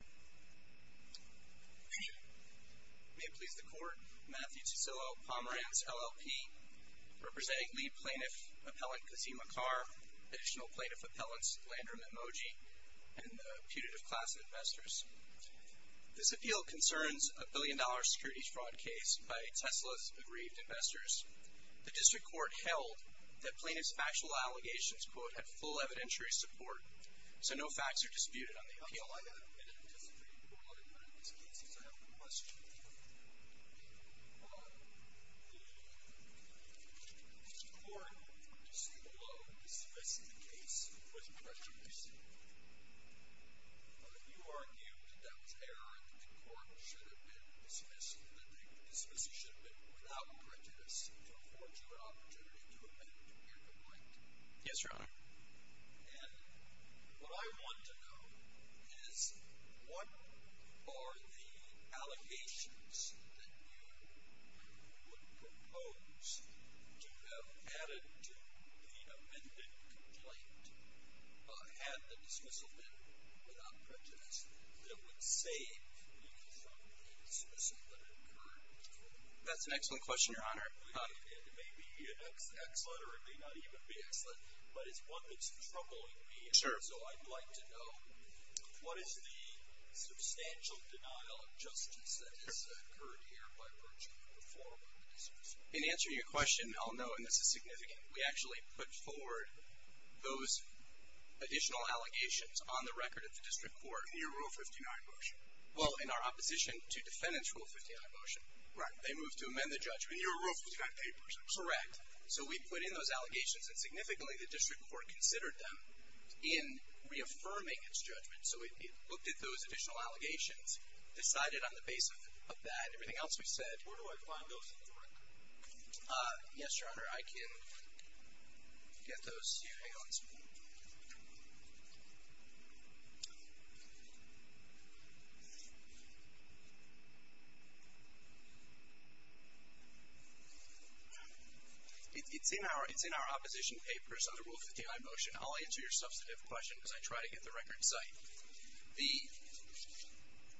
May it please the Court, Matthew Tisillo, Pomerantz LLP, representing lead plaintiff appellant Kazim Acar, additional plaintiff appellants Landrum Emoji, and the putative class of investors. This appeal concerns a billion-dollar security fraud case by Tesla's aggrieved investors. The district court held that plaintiff's factual allegations, quote, had full evidentiary support, so no facts are disputed on the district court. But in these cases, I have a question for you. Mr. Court, you say, well, dismissing the case was prejudice. You argued that that was erroneous and the court should have been dismissed, that the dismissal should have been without prejudice to afford you an opportunity to amend your complaint. Yes, Your Honor. And what I want to know is, what are the allegations that you would propose to have added to the amended complaint, had the dismissal been without prejudice, that would save you from the dismissal that occurred? That's an excellent question, Your Honor. It may be excellent or it may not even be excellent, but it's one that's troubling me. Sure. So I'd like to know, what is the substantial denial of justice that has occurred here by virtue of the form of the dismissal? In answering your question, I'll note, and this is significant, we actually put forward those additional allegations on the record of the district court. In your Rule 59 motion? Well, in our opposition to defendant's Rule 59 motion. Right. They moved to amend the judgment. In your Rule 59 papers? Correct. So we put in those allegations and significantly the district court considered them in reaffirming its judgment. So it looked at those additional allegations, decided on the basis of that and everything else we said. Where do I find those on the record? Yes, Your Honor, I can get those to you. Hang on a second. It's in our opposition papers under Rule 59 motion. I'll answer your substantive question because I try to get the record in sight. The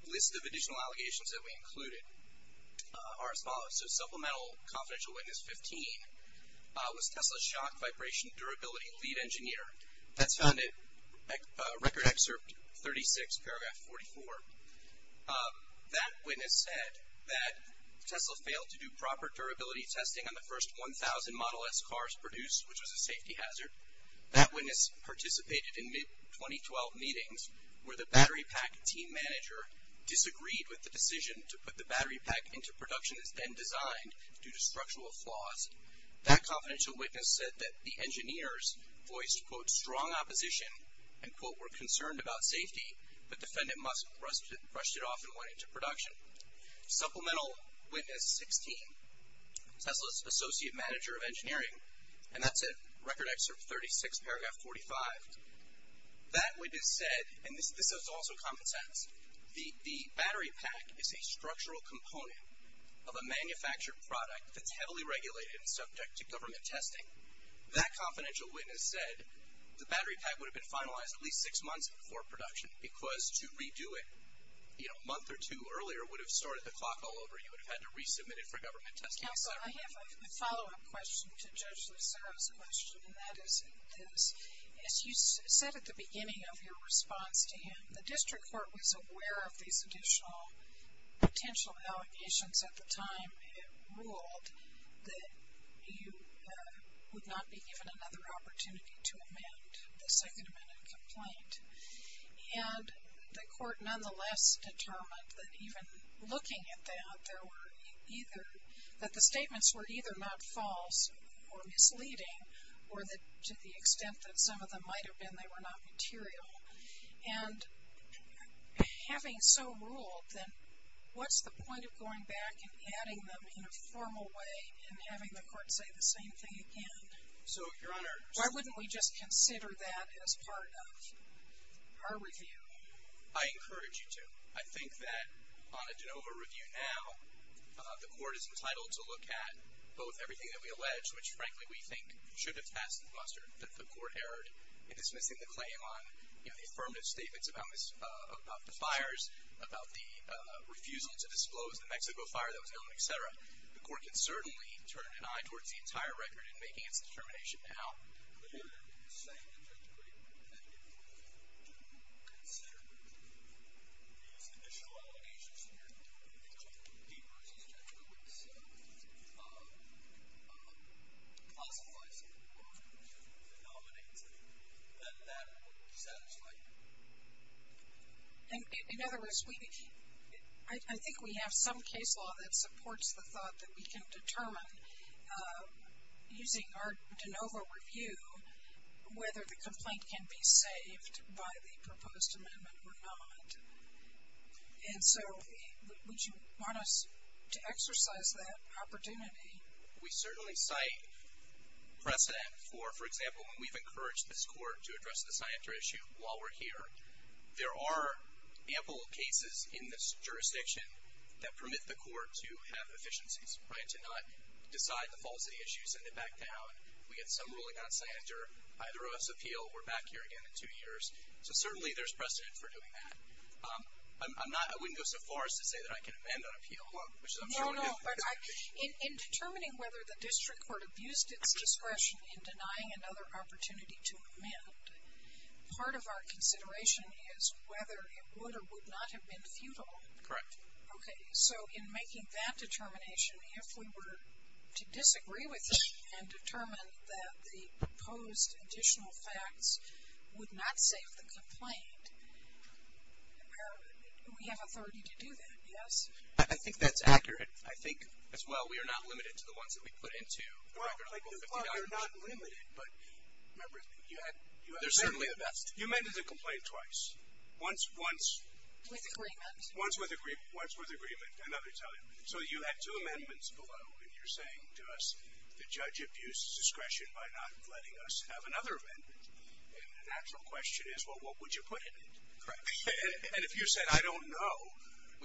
list of additional allegations that we included are as follows. So supplemental confidential witness 15 was Tesla Shock Vibration Durability Lead Engineer. That's found in Record Excerpt 36, Paragraph 44. That witness said that Tesla failed to do proper durability testing on the first 1,000 Model S cars produced, which was a safety hazard. That witness participated in mid-2012 meetings where the battery pack team manager disagreed with the decision to put the battery pack into production that's been designed due to structural flaws. That confidential witness said that the engineers voiced, quote, strong opposition and, quote, were concerned about safety, but defendant must have brushed it off and went into production. Supplemental witness 16, Tesla's Associate Manager of Engineering. And that's in Record Excerpt 36, Paragraph 45. That witness said, and this is also common sense, the battery pack is a structural component of a manufactured product that's heavily regulated and subject to government testing. That confidential witness said the battery pack would have been finalized at least six months before production because to redo it, you know, a month or two earlier would have sorted the clock all over. You would have had to resubmit it for government testing. Counsel, I have a follow-up question to Judge Lucero's question, and that is this. As you said at the beginning of your response to him, the district court was aware of these additional potential allegations at the time, and it ruled that you would not be given another opportunity to amend the second amendment complaint. And the court nonetheless determined that even looking at that, there were either, that the statements were either not false or misleading or that to the extent that some of them might have been, they were not material. And having so ruled, then what's the point of going back and adding them in a formal way and having the court say the same thing again? So, Your Honor, Why wouldn't we just consider that as part of our review? I encourage you to. I think that on a de novo review now, the court is entitled to look at both everything that we allege, which frankly we think should have passed the bluster that the court erred in dismissing the claim on the affirmative statements about the fires, about the refusal to disclose the Mexico fire that was going on, et cetera. The court can certainly turn an eye towards the entire record in making its determination now. Clearly, the statements are great, but if we were to consider these additional allegations here, and go deeper as the judge would have said, and classify some of the problems and the phenomena, then that would satisfy you. In other words, I think we have some case law that supports the thought that we can determine, using our de novo review, whether the complaint can be saved by the proposed amendment or not. And so, would you want us to exercise that opportunity? We certainly cite precedent for, for example, when we've encouraged this court to address the scientific issue while we're here. There are ample cases in this jurisdiction that permit the court to have efficiencies, to not decide the falsity issues and then back down. We had some ruling on Sander, either of us appeal, we're back here again in two years. So certainly there's precedent for doing that. I'm not, I wouldn't go so far as to say that I can amend that appeal, which is I'm sure we could. No, no. In determining whether the district court abused its discretion in denying another opportunity to amend, part of our consideration is whether it would or would not have been futile. Correct. Okay. So in making that determination, if we were to disagree with it and determine that the proposed additional facts would not save the complaint, we have authority to do that, yes? I think that's accurate. I think, as well, we are not limited to the ones that we put into the record of $50. Well, you're not limited, but remember, you had the best. You amended the complaint twice. Once, once. With agreement. Once with agreement, another time. So you had two amendments below, and you're saying to us, the judge abused his discretion by not letting us have another amendment. And the natural question is, well, what would you put in it? Correct. And if you said, I don't know,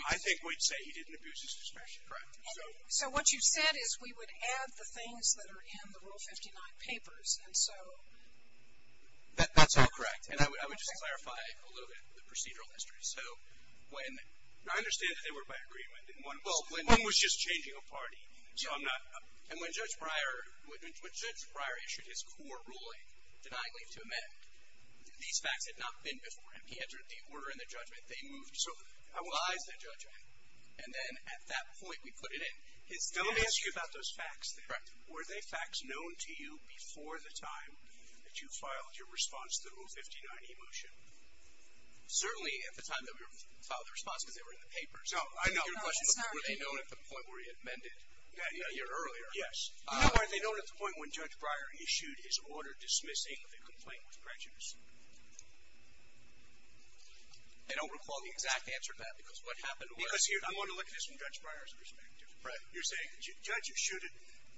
I think we'd say he didn't abuse his discretion. Correct. So what you said is we would add the things that are in the Rule 59 papers, and so. That's all correct. And I would just clarify a little bit the procedural history. I understand that they were by agreement. One was just changing a party. And when Judge Breyer issued his core ruling denying leave to amend, these facts had not been before him. He entered the order in the judgment. They moved to revise the judgment. And then at that point, we put it in. Let me ask you about those facts. Correct. Were they facts known to you before the time that you filed your response to the Rule 59e motion? Certainly at the time that we filed the response, because they were in the papers. No, I know. Were they known at the point where he amended a year earlier? Yes. You know, were they known at the point when Judge Breyer issued his order dismissing the complaint with prejudice? I don't recall the exact answer to that, because what happened was... I want to look at this from Judge Breyer's perspective. Right. You're saying the judge issued it.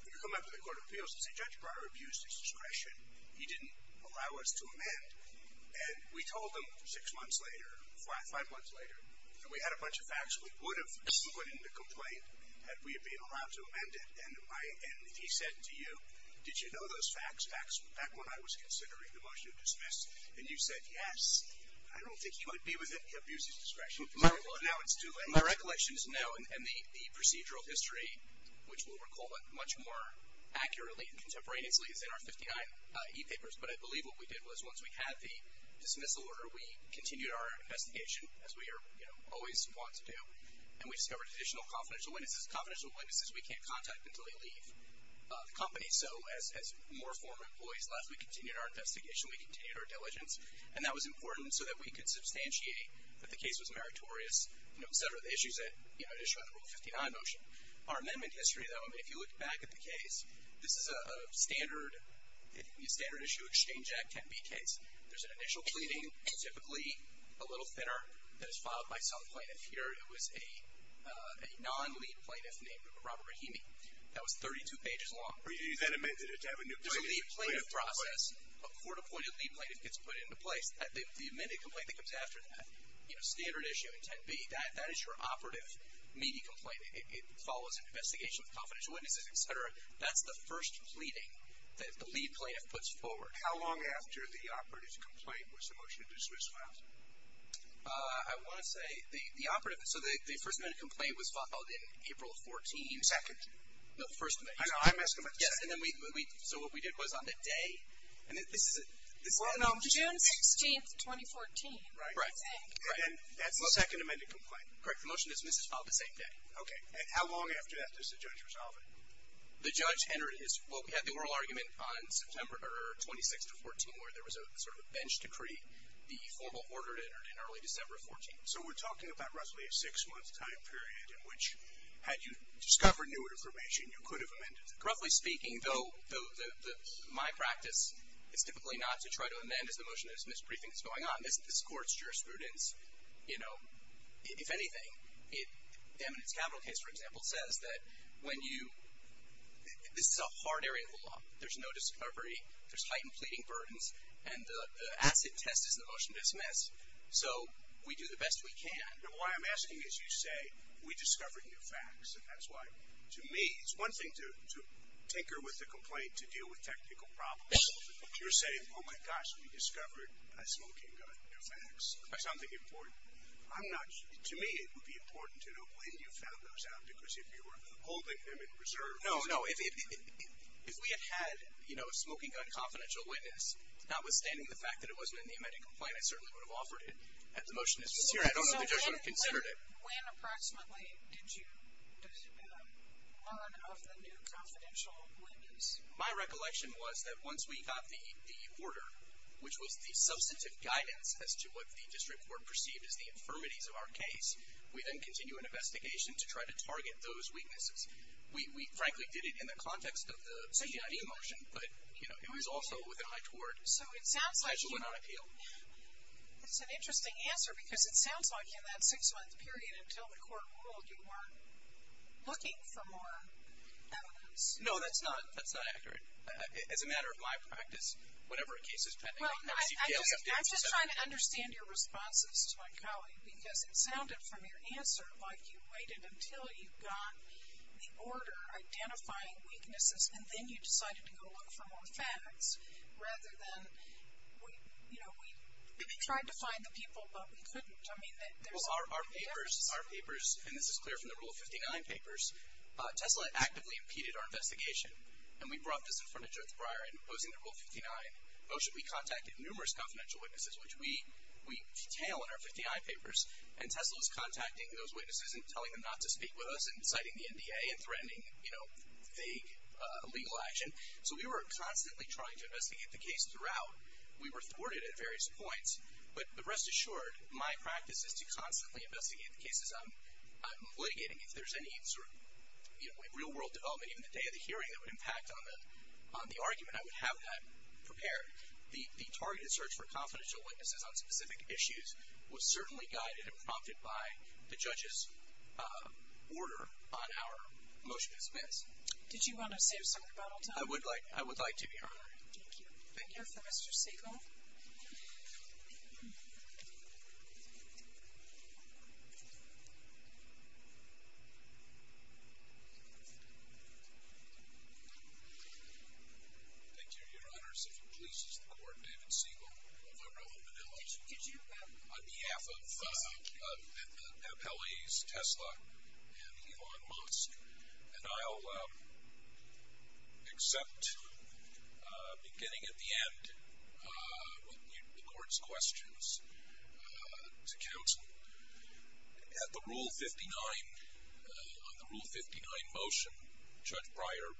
You come up to the Court of Appeals and say, Judge Breyer abused his discretion. He didn't allow us to amend. And we told him six months later, five months later, that we had a bunch of facts we would have put in the complaint had we been allowed to amend it. And he said to you, did you know those facts back when I was considering the motion to dismiss? And you said, yes. I don't think he would be within the abuse of discretion. Well, now it's too late. My recollection is no. And the procedural history, which we'll recall much more accurately and contemporaneously, is in our 59e papers. But I believe what we did was, once we had the dismissal order, we continued our investigation, as we always want to do. And we discovered additional confidential witnesses. Confidential witnesses we can't contact until they leave the company. So as more former employees left, we continued our investigation. We continued our diligence. And that was important so that we could substantiate that the case was meritorious, et cetera, the issues that issue on the Rule 59 motion. Our amendment history, though, if you look back at the case, this is a standard issue exchange act, 10B case. There's an initial pleading, typically a little thinner, that is filed by some plaintiff. Here it was a non-lead plaintiff named Robert Rahimi. That was 32 pages long. But you then amended it to have a new plaintiff. There's a lead plaintiff process. A court-appointed lead plaintiff gets put into place. The amended complaint that comes after that, standard issue in 10B, that is your operative, meaty complaint. It follows an investigation with confidential witnesses, et cetera. That's the first pleading that the lead plaintiff puts forward. How long after the operative's complaint was the motion to dismiss filed? I want to say the operative, so the first amended complaint was filed April 14th. The second? No, the first amendment. I know. I'm asking about the second. Yes. And then we, so what we did was on the day. June 16th, 2014. Right. And that's the second amended complaint. Correct. The motion to dismiss is filed the same day. Okay. And how long after that does the judge resolve it? The judge entered his, well, we had the oral argument on September, or 26 to 14, where there was a sort of bench decree. The formal order entered in early December of 14. So we're talking about roughly a six-month time period in which, had you discovered new information, you could have amended it. Roughly speaking, though, my practice is typically not to try to amend as the motion to dismiss briefing is going on. As this Court's jurisprudence, you know, if anything, the eminence capital case, for example, says that when you, this is a hard area of the law. There's no discovery. There's heightened pleading burdens. And the asset test is the motion to dismiss. So we do the best we can. Why I'm asking is you say, we discovered new facts. And that's why, to me, it's one thing to tinker with the complaint to deal with technical problems. You're saying, oh, my gosh, we discovered a smoking gun. New facts. Something important. I'm not sure. To me, it would be important to know when you found those out. Because if you were holding them in reserve. No, no. If we had had, you know, a smoking gun confidential witness, notwithstanding the fact that it wasn't in the amended complaint, I certainly would have offered it at the motion to dismiss hearing. I don't know if the judge would have considered it. When approximately did you learn of the new confidential witness? My recollection was that once we got the order, which was the substantive guidance as to what the district court perceived as the infirmities of our case, we then continue an investigation to try to target those weaknesses. We frankly did it in the context of the CCID motion. But, you know, it was also with an eye toward. So it sounds like you. Special amount of appeal. It's an interesting answer. Because it sounds like in that six-month period until the court ruled, you weren't looking for more evidence. No, that's not. That's not accurate. As a matter of my practice, whatever a case is. Well, I'm just trying to understand your responses to my colleague. Because it sounded from your answer like you waited until you got the order identifying weaknesses, and then you decided to go look for more facts. Rather than, you know, we tried to find the people, but we couldn't. I mean, there's a lot of differences. Well, our papers, and this is clear from the Rule 59 papers, Tesla actively impeded our investigation. And we brought this in front of Judge Breyer in opposing the Rule 59 motion. We contacted numerous confidential witnesses, which we detail in our 59 papers. And Tesla was contacting those witnesses and telling them not to speak with us and citing the NDA and threatening, you know, vague legal action. So we were constantly trying to investigate the case throughout. We were thwarted at various points. But rest assured, my practice is to constantly investigate the cases. As I'm litigating, if there's any sort of, you know, real-world development, even the day of the hearing that would impact on the argument, I would have that prepared. The targeted search for confidential witnesses on specific issues was certainly guided and prompted by the judge's order on our motion as amends. Did you want to say something about all that? I would like to, Your Honor. Thank you. Thank you for Mr. Siegel. Thank you, Your Honors. If it pleases the Court, David Siegel of Arella Manila. On behalf of Appellees Tesla and Elon Musk, and I'll accept beginning at the end the Court's questions to counsel. At the Rule 59, on the Rule 59 motion, Judge Breyer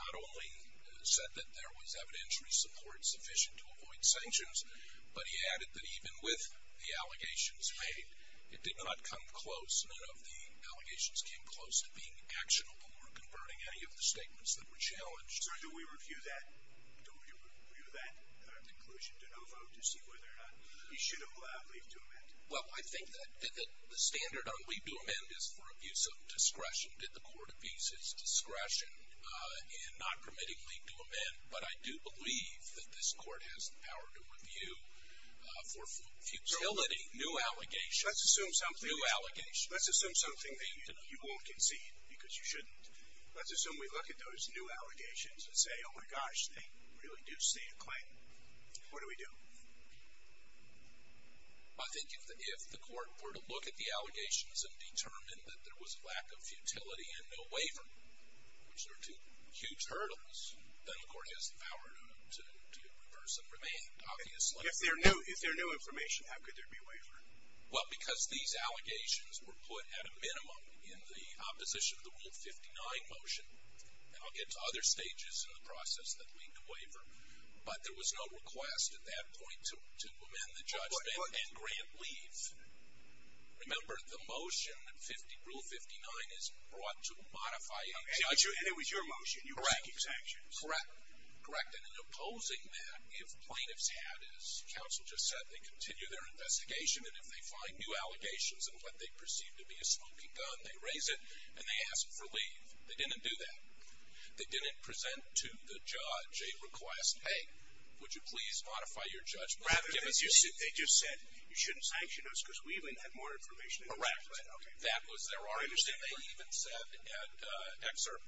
not only said that there was evidentiary support sufficient to avoid sanctions, but he added that even with the allegations made, it did not come close. None of the allegations came close to being actionable or converting any of the statements that were challenged. So do we review that conclusion to no vote to see whether or not you should have leaved to amend? Well, I think that the standard on leave to amend is for abuse of discretion. Did the Court abuse its discretion in not permitting leave to amend? But I do believe that this Court has the power to review for futility new allegations. Let's assume something that you won't concede because you shouldn't. Let's assume we look at those new allegations and say, oh my gosh, they really do state a claim. What do we do? I think if the Court were to look at the allegations and determine that there was a lack of futility and no waiver, which are two huge hurdles, then the Court has the power to reverse and remain, obviously. If there are no information, how could there be waiver? Well, because these allegations were put at a minimum in the opposition to the Rule 59 motion. And I'll get to other stages in the process that lead to waiver. But there was no request at that point to amend the judgment and grant leave. Remember, the motion, Rule 59, is brought to modify any judgment. And it was your motion. You were seeking sanctions. Correct. Correct. And in opposing that, if plaintiffs had, as counsel just said, they continue their investigation, and if they find new allegations in what they perceive to be a smoking gun, they raise it, and they ask for leave. They didn't do that. They didn't present to the judge a request, hey, would you please modify your judgment? Rather than they just said, you shouldn't sanction us because we even have more information. Correct. That was their argument. Interestingly, they even said at excerpt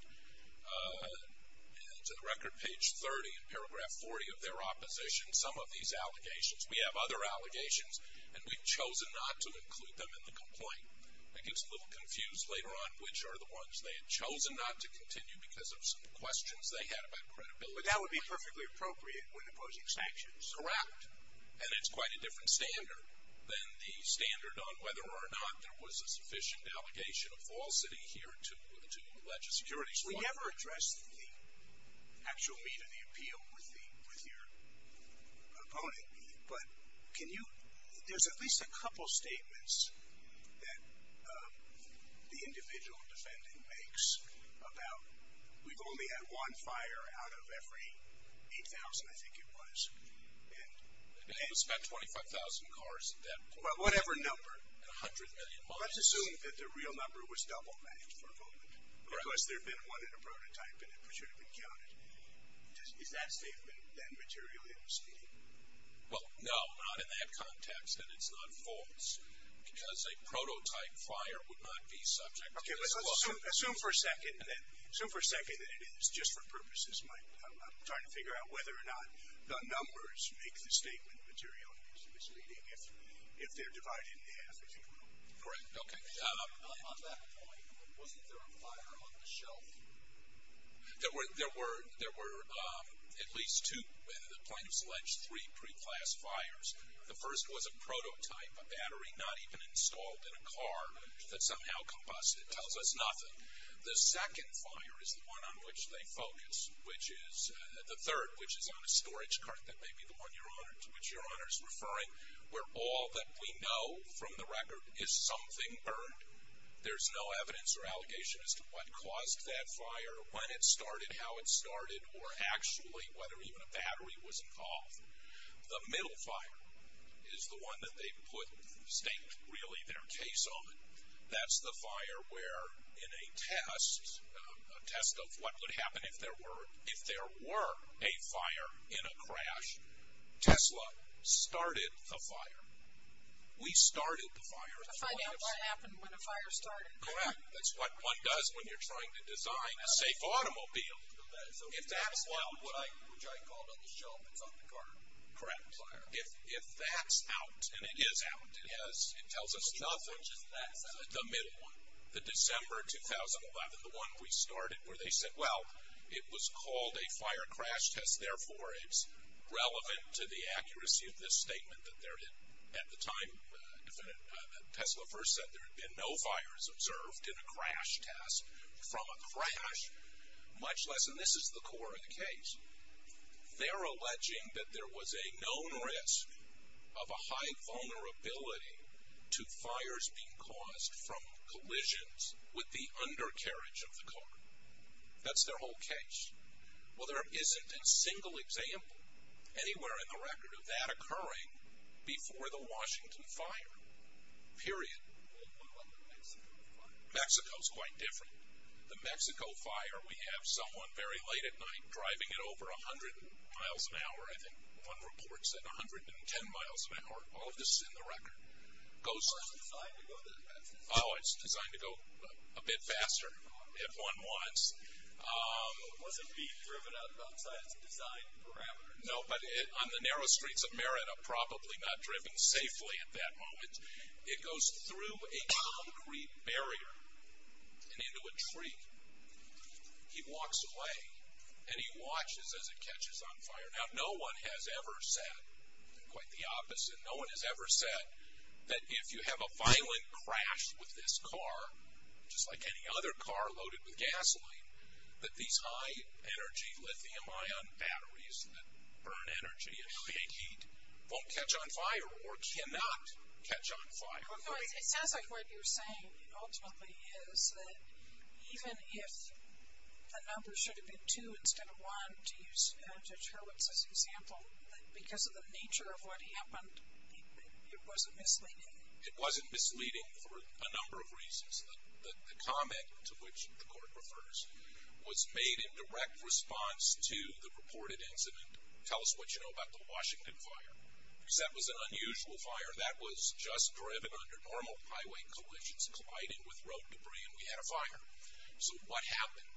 to the record, page 30 and paragraph 40 of their opposition, some of these allegations. We have other allegations, and we've chosen not to include them in the complaint. It gets a little confused later on which are the ones they had chosen not to continue because of some questions they had about credibility. But that would be perfectly appropriate when opposing sanctions. Correct. And it's quite a different standard than the standard on whether or not there was a sufficient allegation of falsity here to the legislature. We never addressed the actual meat of the appeal with your opponent, but can you – there's at least a couple statements that the individual defendant makes about we've only had one fire out of every 8,000, I think it was. And you spent 25,000 cars at that point. Well, whatever number. And 100 million miles. Let's assume that the real number was double-banked for a moment. Correct. Because there had been one in a prototype, and it should have been counted. Is that statement, then, materially misleading? Well, no, not in that context. And it's not false. Because a prototype fire would not be subject to this law. Okay, let's assume for a second that it is just for purposes. I'm trying to figure out whether or not the numbers make the statement materially misleading. If they're divided in half, it's equal. Correct. Okay. On that point, wasn't there a fire on the shelf? There were at least two. The plaintiffs alleged three pre-class fires. The first was a prototype, a battery not even installed in a car that somehow combusted. It tells us nothing. The second fire is the one on which they focus, which is the third, which is on a storage cart. That may be the one to which your Honor is referring. Where all that we know from the record is something burned. There's no evidence or allegation as to what caused that fire, when it started, how it started, or actually whether even a battery was involved. The middle fire is the one that they put the statement, really, their case on. That's the fire where in a test, a test of what would happen if there were a fire in a crash, Tesla started the fire. We started the fire. To find out what happened when a fire started. Correct. That's what one does when you're trying to design a safe automobile. If that's out, which I called on the shelf, it's on the cart. Correct. If that's out, and it is out, it tells us nothing. Which is this? The middle one. The December 2011, the one we started, where they said, well, it was called a fire crash test. Therefore, it's relevant to the accuracy of this statement that there had, at the time, Tesla first said there had been no fires observed in a crash test. From a crash, much less, and this is the core of the case, they're alleging that there was a known risk of a high vulnerability to fires being caused from collisions with the undercarriage of the car. That's their whole case. Well, there isn't a single example anywhere in the record of that occurring before the Washington fire. Period. What about the Mexico fire? Mexico's quite different. The Mexico fire, we have someone very late at night driving it over 100 miles an hour. I think one report said 110 miles an hour. All of this is in the record. It's not designed to go that fast. Oh, it's designed to go a bit faster if one wants. Was it being driven outside its design parameters? No, but on the narrow streets of Merida, probably not driven safely at that moment. It goes through a concrete barrier and into a tree. He walks away, and he watches as it catches on fire. Now, no one has ever said quite the opposite. No one has ever said that if you have a violent crash with this car, just like any other car loaded with gasoline, that these high-energy lithium-ion batteries that burn energy and create heat won't catch on fire or cannot catch on fire. It sounds like what you're saying ultimately is that even if the number should have been two instead of one, to use Judge Hurwitz's example, because of the nature of what happened, it wasn't misleading. It wasn't misleading for a number of reasons. The comment to which the court refers was made in direct response to the reported incident. Tell us what you know about the Washington fire, because that was an unusual fire. That was just driven under normal highway collisions, colliding with road debris, and we had a fire. So what happened?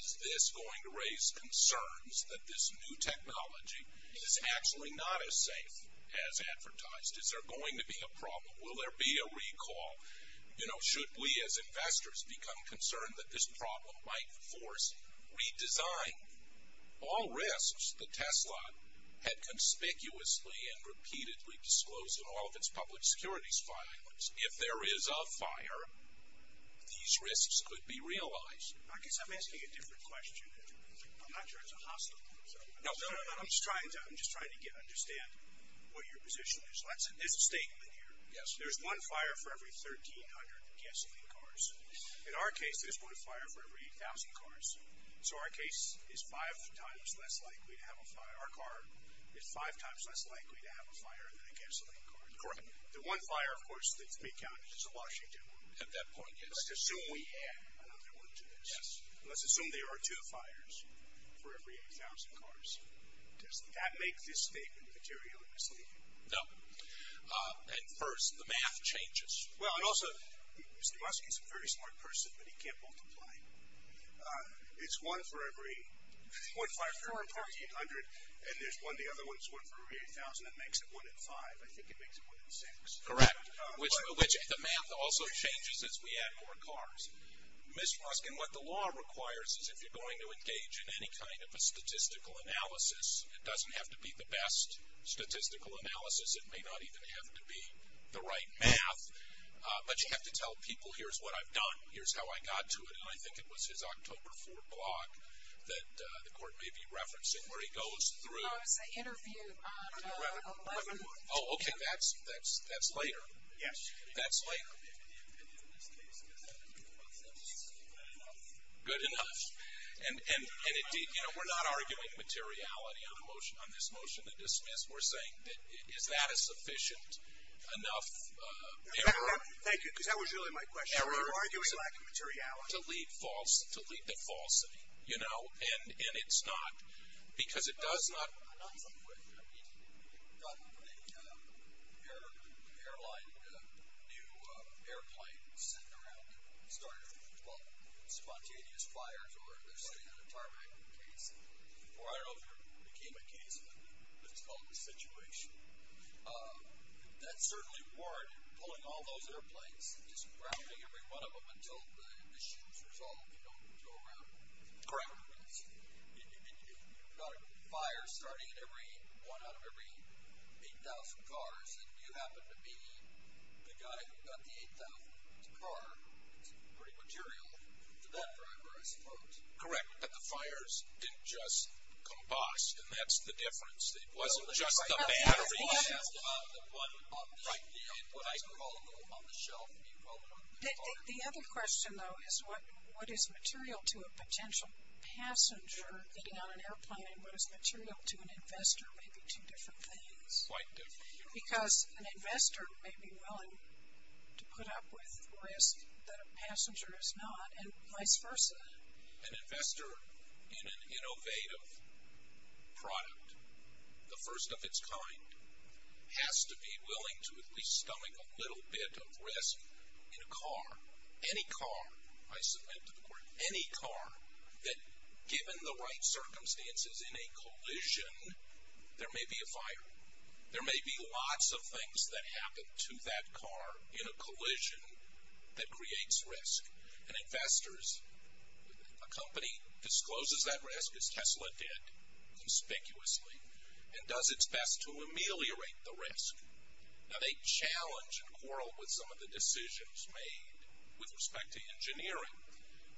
Is this going to raise concerns that this new technology is actually not as safe as advertised? Is there going to be a problem? Will there be a recall? You know, should we as investors become concerned that this problem might force redesign? All risks that Tesla had conspicuously and repeatedly disclosed in all of its public securities filings. If there is a fire, these risks could be realized. I guess I'm asking a different question. I'm not sure it's a hospital. No, no, no. I'm just trying to understand what your position is. There's a statement here. There's one fire for every 1,300 gasoline cars. In our case, there's one fire for every 8,000 cars. So our case is five times less likely to have a fire. Our car is five times less likely to have a fire than a gasoline car. Correct. The one fire, of course, that's being counted is the Washington one. At that point, yes. Let's assume we add another one to this. Yes. Let's assume there are two fires for every 8,000 cars. Does that make this statement material and misleading? No. At first, the math changes. Well, and also, Mr. Muskie is a very smart person, but he can't multiply. It's one for every one fire for every 1,800, and there's one, the other one is one for every 8,000. That makes it one in five. I think it makes it one in six. Correct. Which the math also changes as we add more cars. Ms. Ruskin, what the law requires is, if you're going to engage in any kind of a statistical analysis, it doesn't have to be the best statistical analysis. It may not even have to be the right math, but you have to tell people, here's what I've done, here's how I got to it. And I think it was his October 4 blog that the court may be referencing, where he goes through. No, it was an interview on the 11th. Oh, okay. And that's later. Yes. That's later. In this case, is that good enough? Good enough. And, indeed, you know, we're not arguing materiality on this motion to dismiss. We're saying, is that a sufficient enough error? Thank you, because that was really my question. You're arguing lack of materiality. To lead to falsity, you know, and it's not, because it does not. Not in some way. I mean, you've got an airline, new airplane, sitting around and starting, well, spontaneous fires, or they're sitting in a tarmac case, or I don't know if it became a case, but it's called a situation. That certainly warranted pulling all those airplanes and just grounding every one of them until the issue is resolved. They don't go around. Correct. You've got a fire starting at every one out of every 8,000 cars, and you happen to be the guy who got the 8,000th car. It's pretty material to that driver, I suppose. Correct. But the fires didn't just combust, and that's the difference. It wasn't just the batteries. Well, that's right. That's what I asked about. The one on the shelf, you called it on the fire. The other question, though, is what is material to a potential? What is material to a passenger getting on an airplane, and what is material to an investor? Maybe two different things. Quite different. Because an investor may be willing to put up with risk that a passenger is not, and vice versa. An investor in an innovative product, the first of its kind, has to be willing to at least stomach a little bit of risk in a car. Any car, I submit to the court, any car, that given the right circumstances in a collision, there may be a fire. There may be lots of things that happen to that car in a collision that creates risk. And investors, a company discloses that risk, as Tesla did conspicuously, Now, they challenge and quarrel with some of the decisions made with respect to engineering.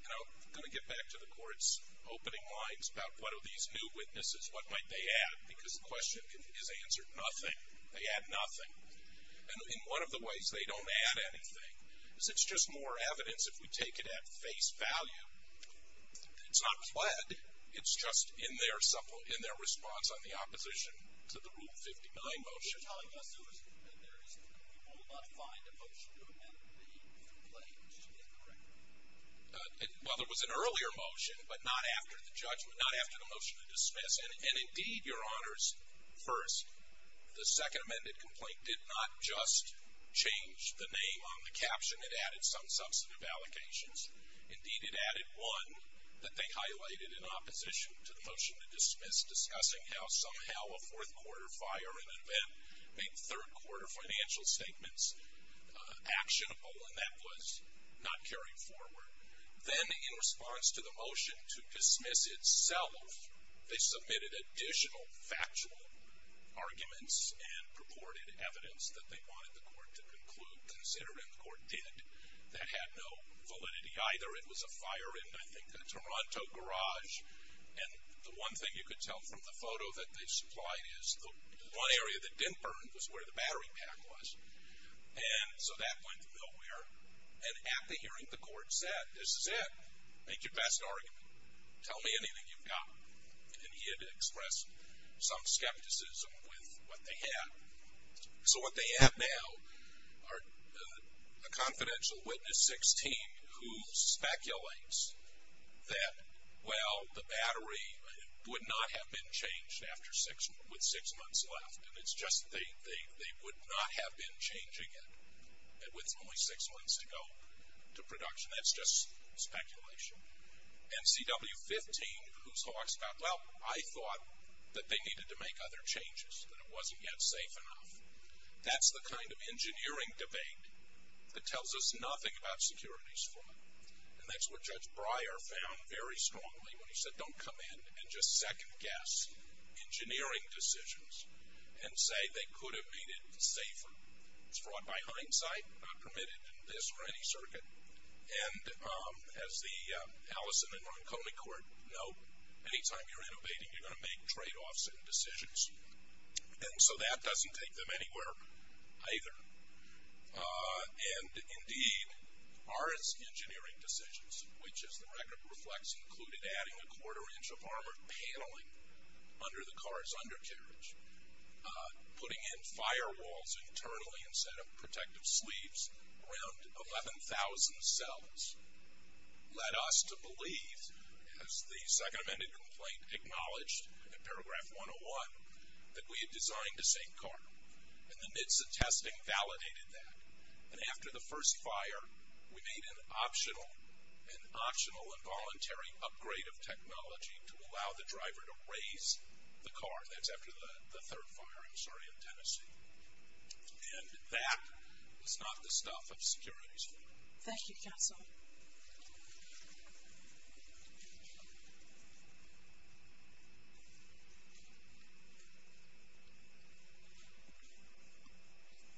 And I'm going to get back to the court's opening lines about, what are these new witnesses? What might they add? Because the question is answered, nothing. They add nothing. And one of the ways they don't add anything is it's just more evidence if we take it at face value. It's not pled. It's just in their response on the opposition to the Rule 59 motion. You're telling us there was a complaint there. We will not find a motion to amend the complaint. Is that correct? Well, there was an earlier motion, but not after the judgment, not after the motion to dismiss. And indeed, Your Honors, first, the second amended complaint did not just change the name on the caption. It added some substantive allocations. Indeed, it added one that they highlighted in opposition to the motion to dismiss discussing how somehow a fourth quarter fire in an event made third quarter financial statements actionable, and that was not carried forward. Then in response to the motion to dismiss itself, they submitted additional factual arguments and purported evidence that they wanted the court to conclude, consider, and the court did. That had no validity either. It was a fire in, I think, a Toronto garage. And the one thing you could tell from the photo that they supplied is the one area that didn't burn was where the battery pack was. And so that went nowhere. And at the hearing, the court said, this is it. Make your best argument. Tell me anything you've got. And he had expressed some skepticism with what they had. So what they have now are a confidential witness 16 who speculates that, well, the battery would not have been changed with six months left. And it's just they would not have been changing it with only six months to go to production. That's just speculation. And CW15, whose hawks got, well, I thought that they needed to make other changes, that it wasn't yet safe enough. That's the kind of engineering debate that tells us nothing about securities fraud. And that's what Judge Breyer found very strongly when he said, don't come in and just second-guess engineering decisions and say they could have made it safer. It's fraud by hindsight, not permitted in this or any circuit. And as the Allison and Ronconi court know, any time you're innovating, you're going to make tradeoffs in decisions. And so that doesn't take them anywhere either. And, indeed, our engineering decisions, which, as the record reflects, included adding a quarter-inch of armored paneling under the car's undercarriage, putting in firewalls internally instead of protective sleeves, around 11,000 cells, led us to believe, as the second amended complaint acknowledged in paragraph 101, that we had designed the same car. In the midst of testing, validated that. And after the first fire, we made an optional and voluntary upgrade of technology to allow the driver to raise the car. That's after the third fire, I'm sorry, in Tennessee. And that was not the stuff of securities fraud. Thank you, counsel.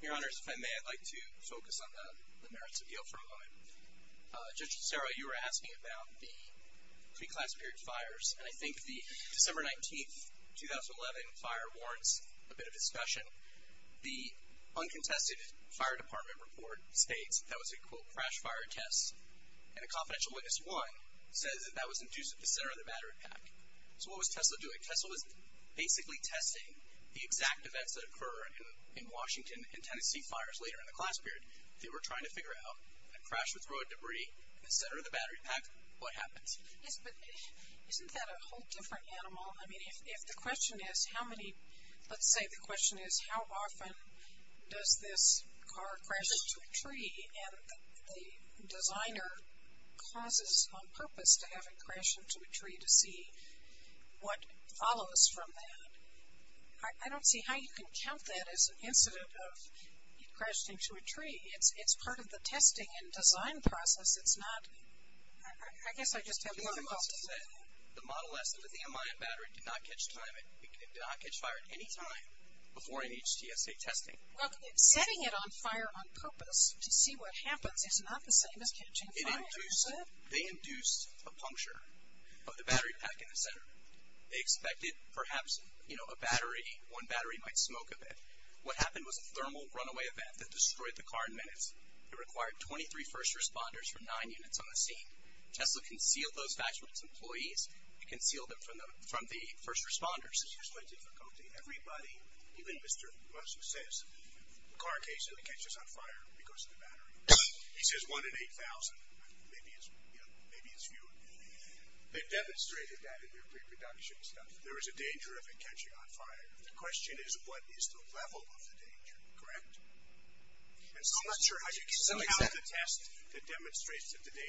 Your Honors, if I may, I'd like to focus on the merits of the ill-for-a-woman. Judge Cicero, you were asking about the pre-class period fires. And I think the December 19, 2011 fire warrants a bit of discussion. The uncontested fire department report states that was a, quote, crash fire test. And a confidential witness, one, says that that was induced at the center of the battery pack. So what was TESLA doing? TESLA was basically testing the exact events that occur in Washington and Tennessee fires later in the class period. They were trying to figure out when a crash would throw a debris in the center of the battery pack, what happens? Yes, but isn't that a whole different animal? I mean, if the question is how many, let's say the question is how often does this car crash into a tree, and the designer causes on purpose to have it crash into a tree to see what follows from that. I don't see how you can count that as an incident of it crashing into a tree. It's part of the testing and design process. It's not, I guess I just have difficulty. TESLA said the Model S under the MIM battery did not catch fire at any time before NHTSA testing. Well, setting it on fire on purpose to see what happens is not the same as catching fire. They induced a puncture of the battery pack in the center. They expected perhaps, you know, a battery, one battery might smoke a bit. What happened was a thermal runaway event that destroyed the car in minutes. It required 23 first responders from nine units on the scene. TESLA concealed those facts from its employees. It concealed them from the first responders. It's just my difficulty. Everybody, even Mr. Musk who says, the car case only catches on fire because of the battery. He says one in 8,000. Maybe it's, you know, maybe it's few. They've demonstrated that in their pre-production stuff. There is a danger of it catching on fire. The question is what is the level of the danger, correct? And so I'm not sure how you can count the test that demonstrates that the level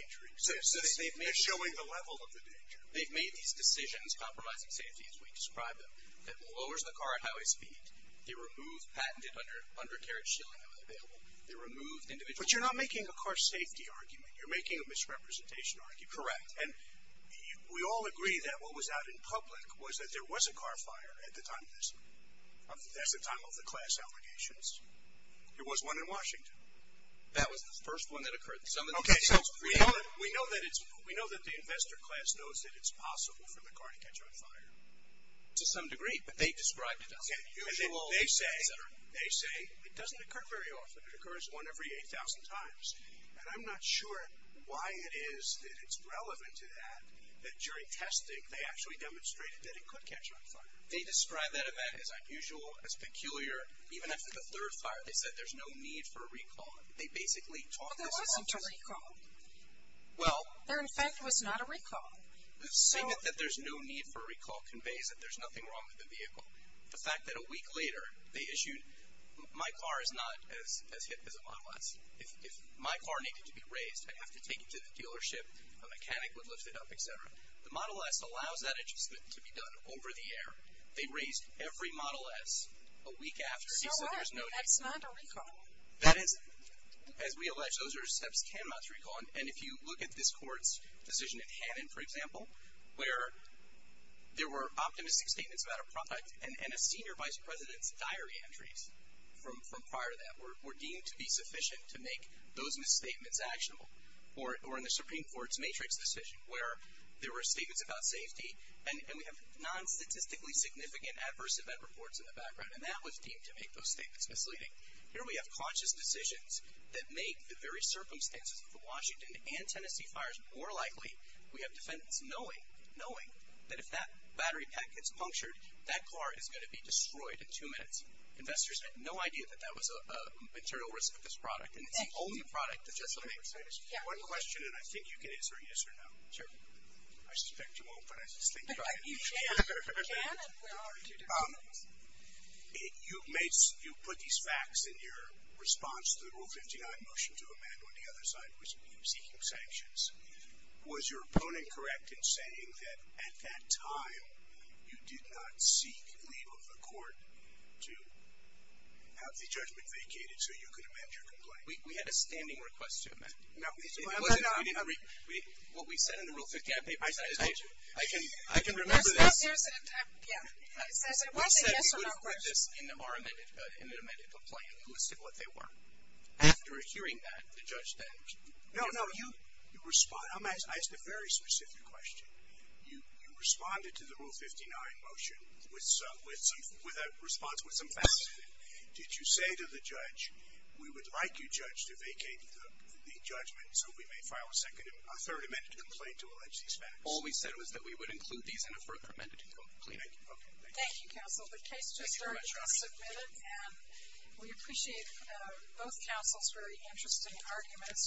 of the danger. They've made these decisions, compromising safety as we describe them, that lowers the car at highway speed. They removed patented undercarriage shielding that was available. They removed individual. But you're not making a car safety argument. You're making a misrepresentation argument. Correct. And we all agree that what was out in public was that there was a car fire at the time of this, at the time of the class allegations. There was one in Washington. That was the first one that occurred. Okay, so we know that it's, we know that the investor class knows that it's possible for the car to catch on fire. To some degree, but they described it as unusual. They say it doesn't occur very often. It occurs one every 8,000 times. And I'm not sure why it is that it's relevant to that, that during testing they actually demonstrated that it could catch on fire. They described that event as unusual, as peculiar. Even after the third fire, they said there's no need for a recall. They basically talked us off. But there wasn't a recall. Well. There, in fact, was not a recall. Saying that there's no need for a recall conveys that there's nothing wrong with the vehicle. The fact that a week later they issued, my car is not as hit as a Model S. If my car needed to be raised, I'd have to take it to the dealership, a mechanic would lift it up, et cetera. The Model S allows that adjustment to be done over the air. They raised every Model S a week after. So what? That's not a recall. That is, as we allege, those are steps cannot be recalled. And if you look at this court's decision in Hannon, for example, where there were optimistic statements about a product, and a senior vice president's diary entries from prior to that were deemed to be sufficient to make those misstatements actionable. Or in the Supreme Court's matrix decision, where there were statements about safety, and we have non-statistically significant adverse event reports in the background, and that was deemed to make those statements misleading. Here we have conscious decisions that make the very circumstances of the Washington and Tennessee fires more likely. We have defendants knowing that if that battery pack gets punctured, that car is going to be destroyed in two minutes. Investors had no idea that that was a material risk of this product, and it's the only product that does that. One question, and I think you can answer yes or no. Sure. I suspect you won't, but I just think you should. You can if there are two different things. You put these facts in your response to the Rule 59 motion to amend, when the other side was seeking sanctions. Was your opponent correct in saying that at that time, you did not seek leave of the court to have the judgment vacated so you could amend your complaint? We had a standing request to amend. No. What we said in the Rule 59 motion, I can remember this. You said you would have put this in an amended complaint and listed what they were. After hearing that, the judge then. No, no. I'm asking a very specific question. You responded to the Rule 59 motion with a response with some facts in it. Did you say to the judge, we would like you, judge, to vacate the judgment so we may file a third amended complaint to allege these facts? All we said was that we would include these in a third amended complaint. Thank you. Thank you, counsel. The case just started. It was submitted. And we appreciate both counsel's very interesting arguments.